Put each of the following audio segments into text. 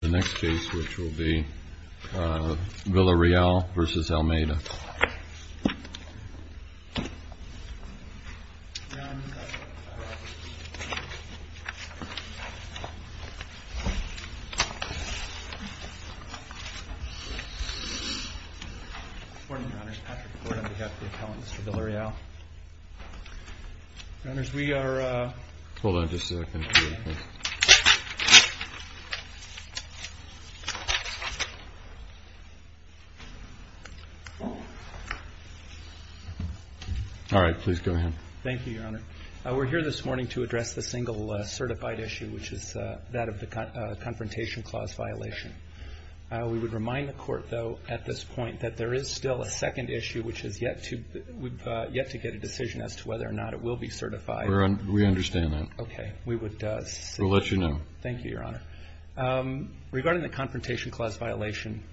The next case, which will be VILLAREAL v. ALMEIDA Good morning, Your Honors. Patrick Ford on behalf of the appellants for VILLAREAL Your Honors, we are... Hold on just a second here, please All right, please go ahead Thank you, Your Honor We're here this morning to address the single certified issue, which is that of the Confrontation Clause violation We would remind the Court, though, at this point, that there is still a second issue, which is yet to... We've yet to get a decision as to whether or not it will be certified We understand that We'll let you know Thank you, Your Honor Regarding the Confrontation Clause violation...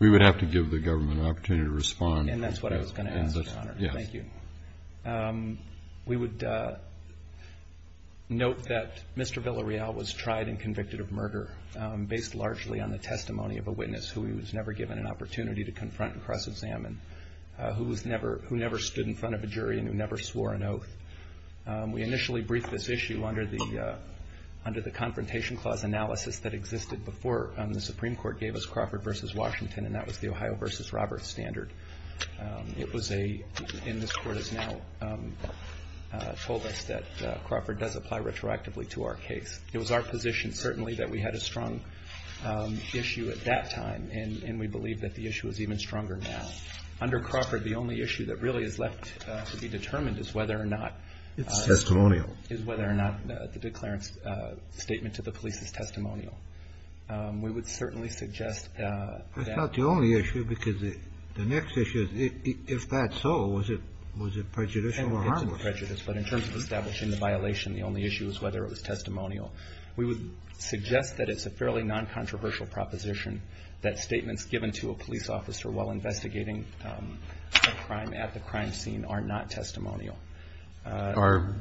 We would have to give the government an opportunity to respond And that's what I was going to ask, Your Honor Yes Thank you We would note that Mr. Villareal was tried and convicted of murder based largely on the testimony of a witness who he was never given an opportunity to confront and cross-examine We initially briefed this issue under the Confrontation Clause analysis that existed before the Supreme Court gave us Crawford v. Washington And that was the Ohio v. Roberts standard It was a... And this Court has now told us that Crawford does apply retroactively to our case It was our position, certainly, that we had a strong issue at that time And we believe that the issue is even stronger now Under Crawford, the only issue that really is left to be determined is whether or not... It's testimonial ...is whether or not the declarant's statement to the police is testimonial We would certainly suggest that... That's not the only issue, because the next issue is, if that's so, was it prejudicial or harmless? It's a prejudice, but in terms of establishing the violation, the only issue is whether it was testimonial We would suggest that it's a fairly non-controversial proposition That statements given to a police officer while investigating a crime at the crime scene are not testimonial Are...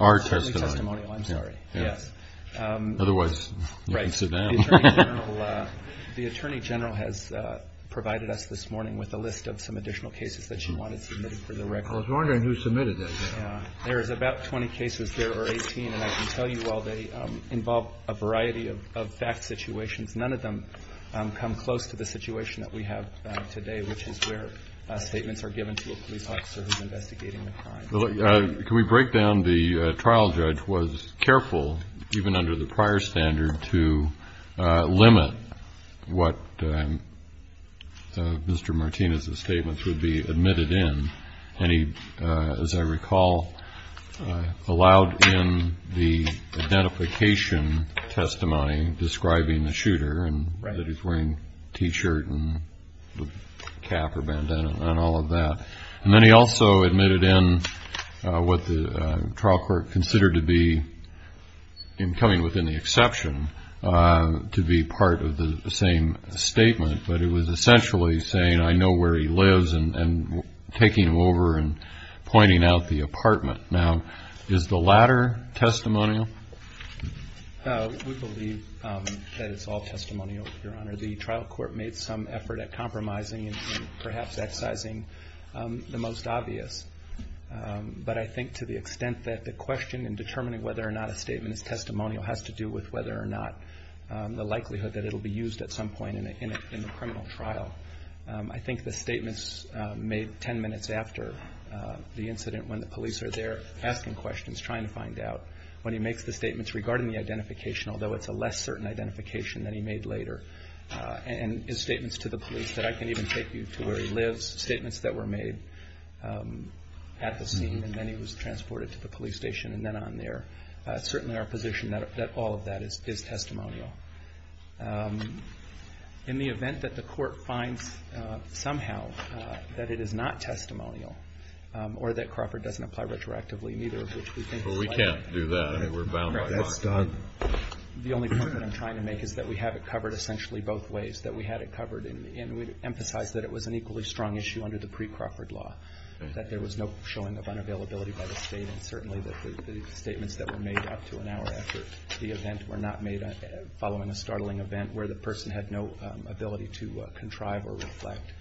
Are testimony Certainly testimonial, I'm sorry Yes Otherwise, you can sit down The Attorney General has provided us this morning with a list of some additional cases that she wanted submitted for the record I was wondering who submitted those There is about 20 cases, there are 18, and I can tell you, while they involve a variety of fact situations None of them come close to the situation that we have today Which is where statements are given to a police officer who's investigating a crime Can we break down the trial judge was careful, even under the prior standard, to limit what Mr. Martinez's statements would be admitted in And he, as I recall, allowed in the identification testimony describing the shooter And that he's wearing a t-shirt and a cap or bandana and all of that And then he also admitted in what the trial court considered to be, in coming within the exception, to be part of the same statement But it was essentially saying I know where he lives and taking him over and pointing out the apartment Now, is the latter testimonial? We believe that it's all testimonial, Your Honor The trial court made some effort at compromising and perhaps excising the most obvious But I think to the extent that the question in determining whether or not a statement is testimonial has to do with whether or not The likelihood that it'll be used at some point in the criminal trial I think the statements made ten minutes after the incident when the police are there asking questions, trying to find out When he makes the statements regarding the identification, although it's a less certain identification than he made later And his statements to the police that I can even take you to where he lives Statements that were made at the scene and then he was transported to the police station and then on there Certainly our position that all of that is testimonial In the event that the court finds somehow that it is not testimonial Or that Crawford doesn't apply retroactively, neither of which we think is likely But we can't do that, we're bound by law The only point that I'm trying to make is that we have it covered essentially both ways That we had it covered and we'd emphasize that it was an equally strong issue under the pre-Crawford law That there was no showing of unavailability by the state And certainly that the statements that were made up to an hour after the event were not made Following a startling event where the person had no ability to contrive or reflect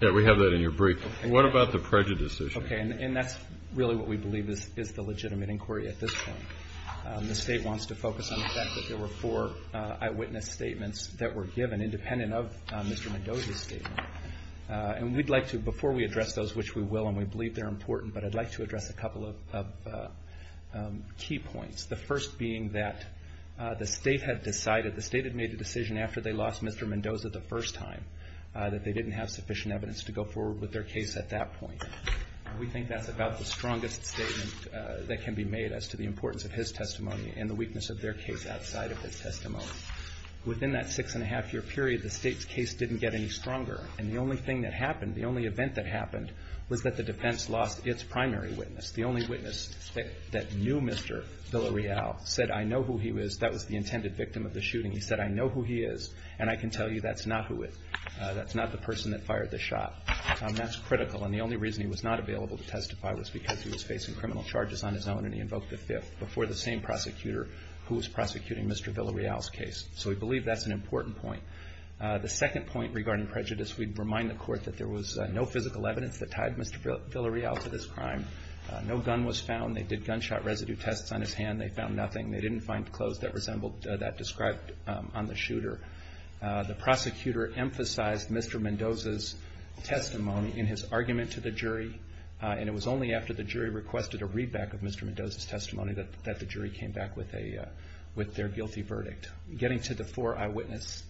Yeah, we have that in your briefing What about the prejudices? Okay, and that's really what we believe is the legitimate inquiry at this point The state wants to focus on the fact that there were four eyewitness statements that were given Independent of Mr. Mendoza's statement And we'd like to, before we address those, which we will and we believe they're important But I'd like to address a couple of key points The first being that the state had decided, the state had made a decision After they lost Mr. Mendoza the first time That they didn't have sufficient evidence to go forward with their case at that point We think that's about the strongest statement that can be made as to the importance of his testimony And the weakness of their case outside of his testimony Within that six and a half year period the state's case didn't get any stronger And the only thing that happened, the only event that happened Was that the defense lost its primary witness The only witness that knew Mr. Villarreal said, I know who he is That was the intended victim of the shooting He said, I know who he is and I can tell you that's not who it is That's not the person that fired the shot That's critical and the only reason he was not available to testify Was because he was facing criminal charges on his own Before the same prosecutor who was prosecuting Mr. Villarreal's case So we believe that's an important point The second point regarding prejudice We'd remind the court that there was no physical evidence that tied Mr. Villarreal to this crime No gun was found They did gunshot residue tests on his hand They found nothing They didn't find clothes that resembled that described on the shooter The prosecutor emphasized Mr. Mendoza's testimony in his argument to the jury And it was only after the jury requested a readback of Mr. Mendoza's testimony That the jury came back with their guilty verdict Getting to the four eyewitness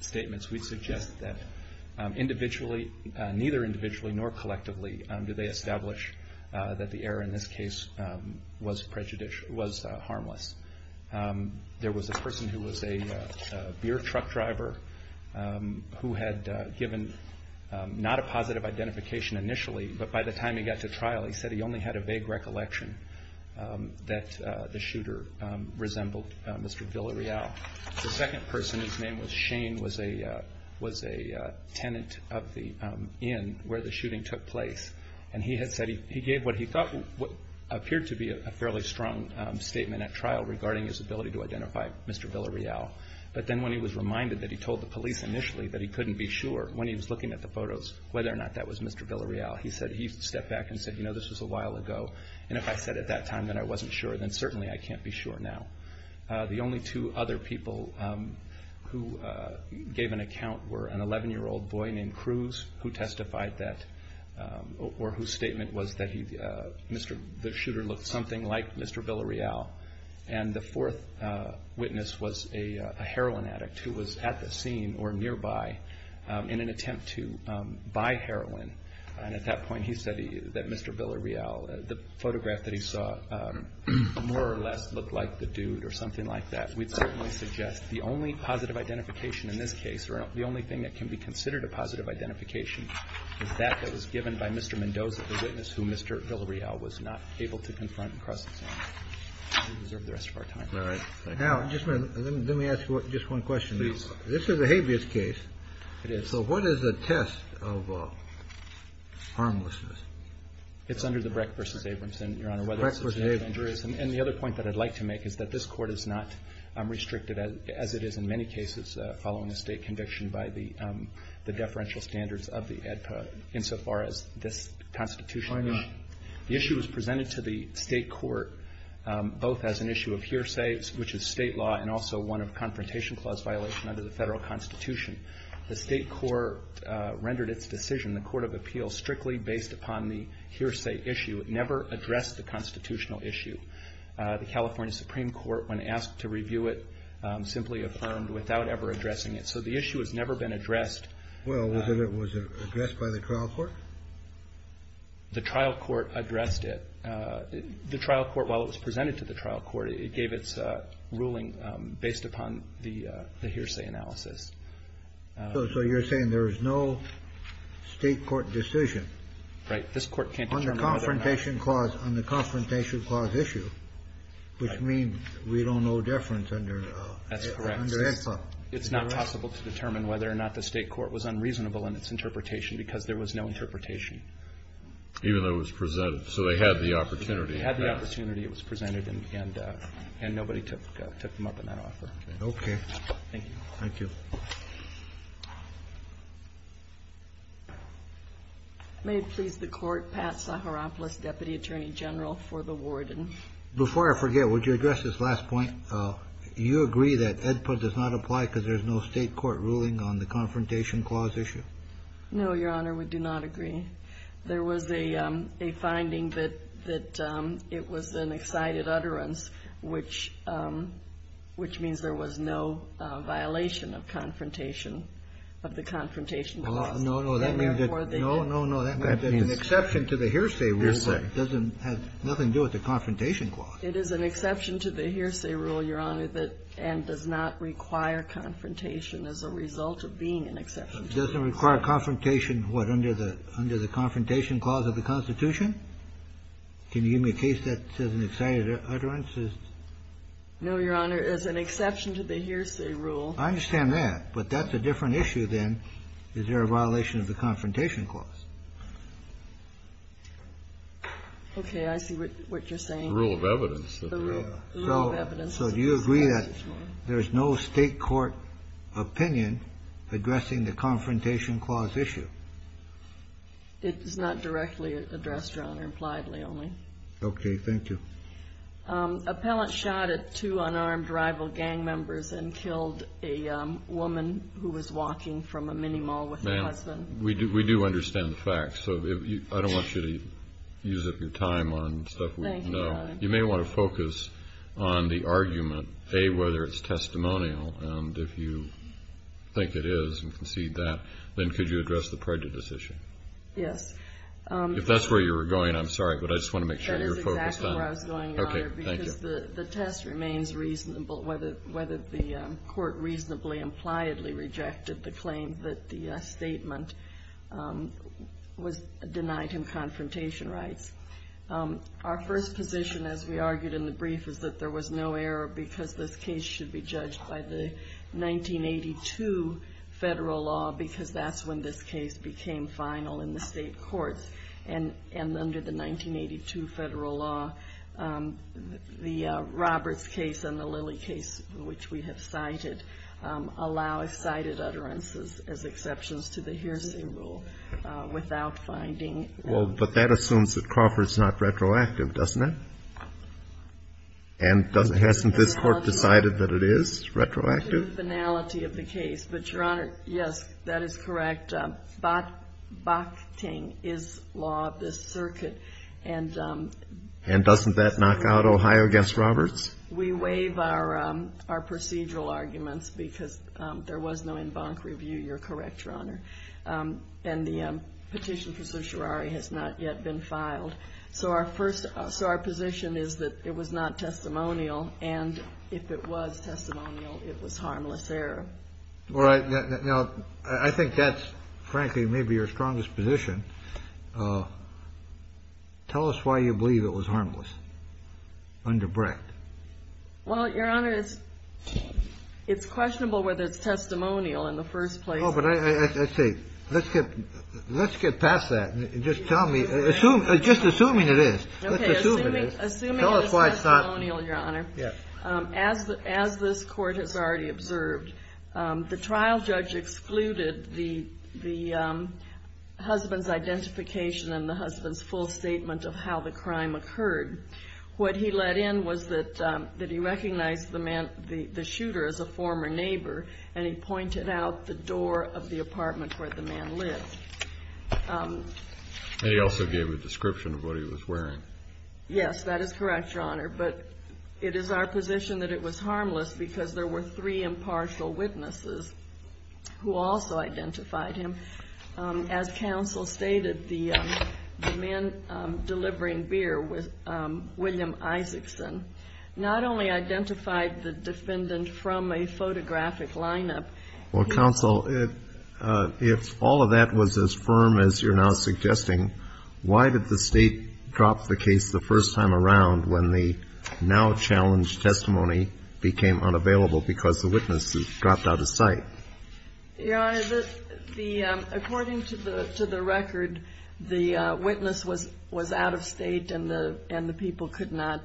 statements We suggest that neither individually nor collectively Do they establish that the error in this case was harmless There was a person who was a beer truck driver Who had given not a positive identification initially But by the time he got to trial he said he only had a vague recollection That the shooter resembled Mr. Villarreal The second person whose name was Shane Was a tenant of the inn where the shooting took place And he had said he gave what he thought What appeared to be a fairly strong statement at trial Regarding his ability to identify Mr. Villarreal But then when he was reminded that he told the police initially That he couldn't be sure when he was looking at the photos Whether or not that was Mr. Villarreal He stepped back and said, you know, this was a while ago And if I said at that time that I wasn't sure Then certainly I can't be sure now The only two other people who gave an account Were an 11-year-old boy named Cruz Whose statement was that the shooter looked something like Mr. Villarreal And the fourth witness was a heroin addict Who was at the scene or nearby in an attempt to buy heroin And at that point he said that Mr. Villarreal The photograph that he saw more or less looked like the dude Or something like that We'd certainly suggest the only positive identification in this case Or the only thing that can be considered a positive identification Is that that was given by Mr. Mendoza The witness who Mr. Villarreal was not able to confront And cross his arms We don't deserve the rest of our time Now, just a minute, let me ask you just one question This is a habeas case So what is the test of harmlessness? It's under the Breck v. Abramson, Your Honor Breck v. Abramson And the other point that I'd like to make is that this court is not Restricted as it is in many cases Following a state conviction by the The deferential standards of the ADPA Insofar as this Constitution The issue was presented to the state court Both as an issue of hearsay, which is state law And also one of confrontation clause violation Under the federal Constitution The state court rendered its decision The court of appeals strictly based upon the hearsay issue It never addressed the constitutional issue The California Supreme Court, when asked to review it Simply affirmed without ever addressing it So the issue has never been addressed Well, was it addressed by the trial court? The trial court addressed it The trial court, while it was presented to the trial court It gave its ruling based upon the hearsay analysis So you're saying there is no state court decision Right, this court can't determine whether or not On the confrontation clause issue Which means we don't owe deference under ADPA That's correct It's not possible to determine whether or not the state court Was unreasonable in its interpretation Because there was no interpretation Even though it was presented, so they had the opportunity They had the opportunity, it was presented And nobody took them up on that offer Okay Thank you May it please the court Pat Saharopoulos, Deputy Attorney General for the warden Before I forget, would you address this last point? Do you agree that ADPA does not apply Because there is no state court ruling On the confrontation clause issue? No, your honor, we do not agree There was a finding that it was an excited utterance Which means there was no violation of confrontation Of the confrontation clause No, no, that means that No, no, no, that means An exception to the hearsay rule Doesn't have nothing to do with the confrontation clause It is an exception to the hearsay rule, your honor And does not require confrontation As a result of being an exception Doesn't require confrontation What, under the confrontation clause of the Constitution? Can you give me a case that says an excited utterance? No, your honor, as an exception to the hearsay rule I understand that But that's a different issue then Is there a violation of the confrontation clause? Okay, I see what you're saying The rule of evidence The rule of evidence So do you agree that there is no state court opinion Addressing the confrontation clause issue? It is not directly addressed, your honor Impliedly only Okay, thank you Appellant shot at two unarmed rival gang members And killed a woman who was walking from a mini mall with her husband Ma'am, we do understand the facts So I don't want you to use up your time on stuff we don't know Thank you, your honor You may want to focus on the argument A, whether it's testimonial And if you think it is and concede that Then could you address the prejudice issue? Yes If that's where you were going, I'm sorry But I just want to make sure you're focused on it That is exactly where I was going, your honor Because the test remains reasonable Whether the court reasonably, impliedly rejected the claim That the statement was denied him confrontation rights Our first position, as we argued in the brief Is that there was no error Because this case should be judged by the 1982 federal law Because that's when this case became final in the state courts And under the 1982 federal law The Roberts case and the Lilly case, which we have cited Allow cited utterances as exceptions to the hearsay rule Without finding Well, but that assumes that Crawford's not retroactive, doesn't it? And hasn't this court decided that it is retroactive? To the finality of the case But, your honor, yes, that is correct Bakhting is law of this circuit And doesn't that knock out Ohio against Roberts? We waive our procedural arguments Because there was no en banc review, you're correct, your honor And the petition for certiorari has not yet been filed So our position is that it was not testimonial And if it was testimonial, it was harmless error All right, now, I think that's, frankly, maybe your strongest position Tell us why you believe it was harmless under Brett Well, your honor, it's questionable whether it's testimonial in the first place Oh, but I say, let's get past that Just tell me, just assuming it is Okay, assuming it is testimonial, your honor As this court has already observed The trial judge excluded the husband's identification And the husband's full statement of how the crime occurred What he let in was that he recognized the shooter as a former neighbor And he pointed out the door of the apartment where the man lived And he also gave a description of what he was wearing Yes, that is correct, your honor But it is our position that it was harmless Because there were three impartial witnesses who also identified him As counsel stated, the man delivering beer, William Isaacson Not only identified the defendant from a photographic lineup Well, counsel, if all of that was as firm as you're now suggesting Why did the state drop the case the first time around When the now challenged testimony became unavailable Because the witness dropped out of sight? Your honor, according to the record, the witness was out of state And the people could not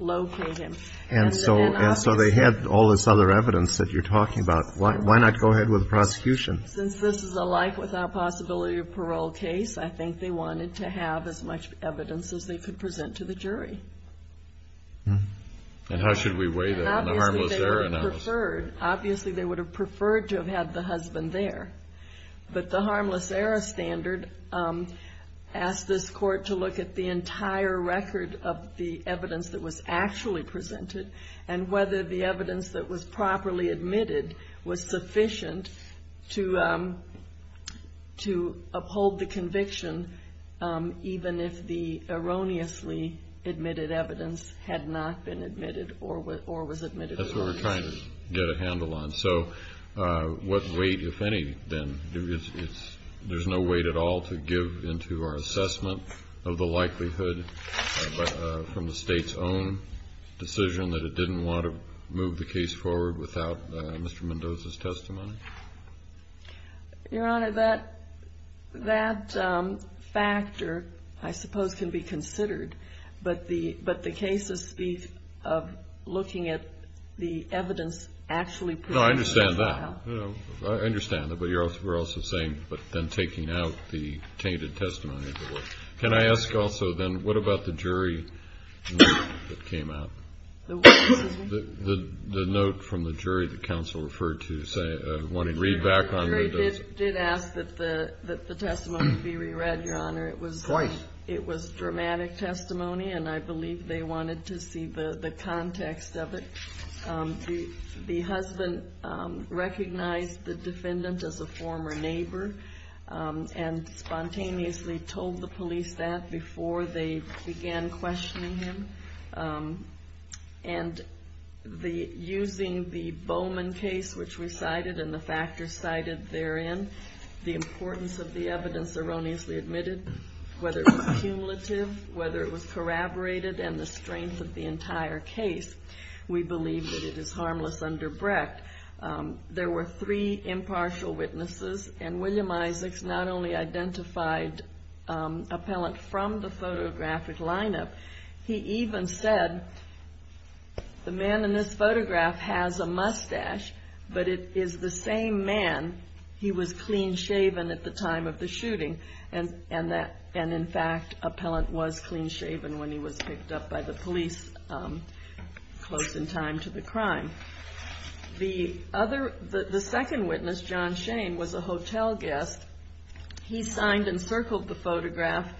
locate him And so they had all this other evidence that you're talking about Why not go ahead with the prosecution? Since this is a like-without-possibility-of-parole case I think they wanted to have as much evidence as they could present to the jury And how should we weigh that in the harmless error analysis? Obviously they would have preferred to have had the husband there But the harmless error standard asked this court to look at the entire record Of the evidence that was actually presented And whether the evidence that was properly admitted Was sufficient to uphold the conviction Even if the erroneously admitted evidence had not been admitted Or was admitted wrong That's what we're trying to get a handle on So what weight, if any, then There's no weight at all to give into our assessment of the likelihood From the state's own decision that it didn't want to move the case forward Without Mr. Mendoza's testimony? Your honor, that factor, I suppose, can be considered But the case of looking at the evidence actually presented as well No, I understand that I understand that, but you're also saying But then taking out the tainted testimony Can I ask also then, what about the jury note that came out? Excuse me? The note from the jury that counsel referred to Wanting read back on Mendoza The jury did ask that the testimony be re-read, your honor Twice It was dramatic testimony And I believe they wanted to see the context of it The husband recognized the defendant as a former neighbor And spontaneously told the police that Before they began questioning him And using the Bowman case, which we cited And the factors cited therein The importance of the evidence erroneously admitted Whether it was cumulative, whether it was corroborated And the strength of the entire case We believe that it is harmless under Brecht There were three impartial witnesses And William Isaacs not only identified Appellant from the photographic lineup He even said, the man in this photograph has a mustache But it is the same man He was clean shaven at the time of the shooting And in fact, appellant was clean shaven When he was picked up by the police Close in time to the crime The second witness, John Shane, was a hotel guest He signed and circled the photograph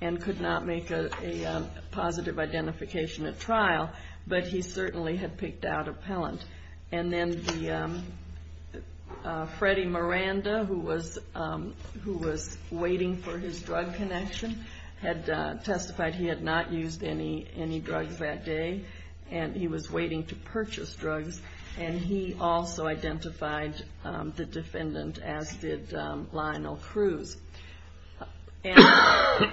And could not make a positive identification at trial But he certainly had picked out appellant And then Freddie Miranda Who was waiting for his drug connection Had testified he had not used any drugs that day And he was waiting to purchase drugs And he also identified the defendant As did Lionel Cruz And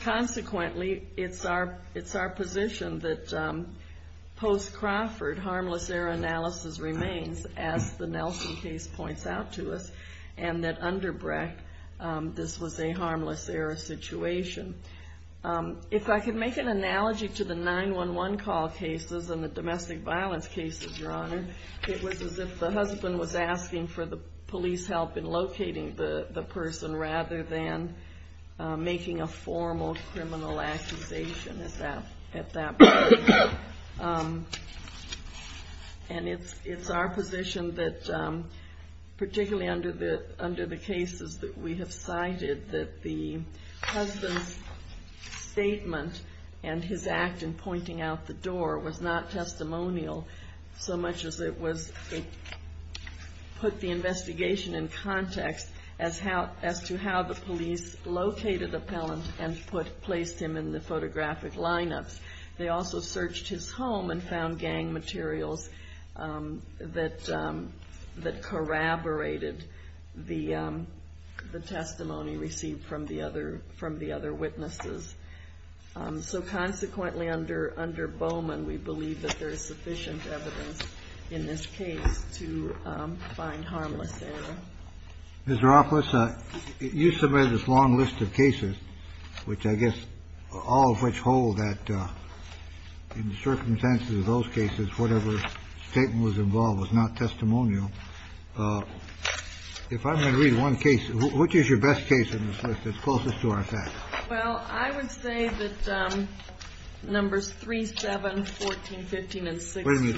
consequently, it's our position That post-Crawford, harmless error analysis remains As the Nelson case points out to us And that under Brecht, this was a harmless error situation If I could make an analogy to the 911 call cases And the domestic violence cases, your honor It was as if the husband was asking for the police help In locating the person Rather than making a formal criminal accusation At that point And it's our position that Particularly under the cases that we have cited That the husband's statement And his act in pointing out the door Was not testimonial So much as it put the investigation in context As to how the police located appellant And placed him in the photographic lineups They also searched his home And found gang materials That corroborated the testimony Received from the other witnesses So consequently, under Bowman We believe that there is sufficient evidence In this case to find harmless error Mr. Ropless, you submitted this long list of cases Which I guess all of which hold that In the circumstances of those cases Whatever statement was involved was not testimonial If I'm going to read one case Which is your best case in this list That's closest to our facts Well, I would say that Numbers 3, 7, 14, 15, and 16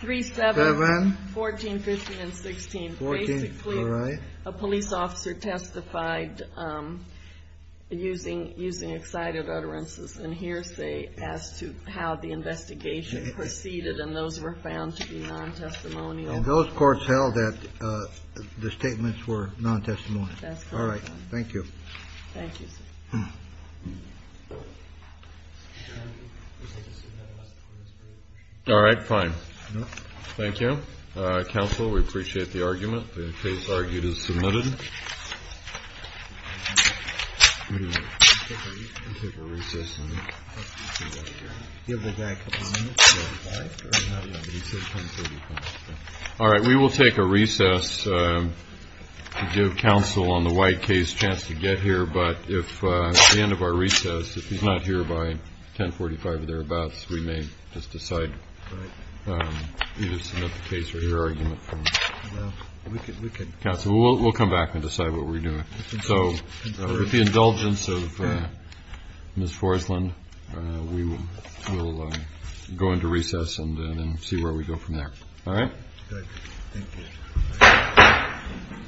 3, 7, 14, 15, and 16 Basically, a police officer testified Using excited utterances and hearsay As to how the investigation proceeded And those were found to be non-testimonial Those courts held that the statements were non-testimonial All right, thank you Thank you, sir All right, fine Thank you The case argued is submitted All right, we will take a recess To give counsel on the White case a chance to get here But at the end of our recess If he's not here by 10.45 or thereabouts We may just decide Either submit the case or hear argument from counsel We'll come back and decide what we're doing So with the indulgence of Ms. Forslund We will go into recess and see where we go from there All right Thank you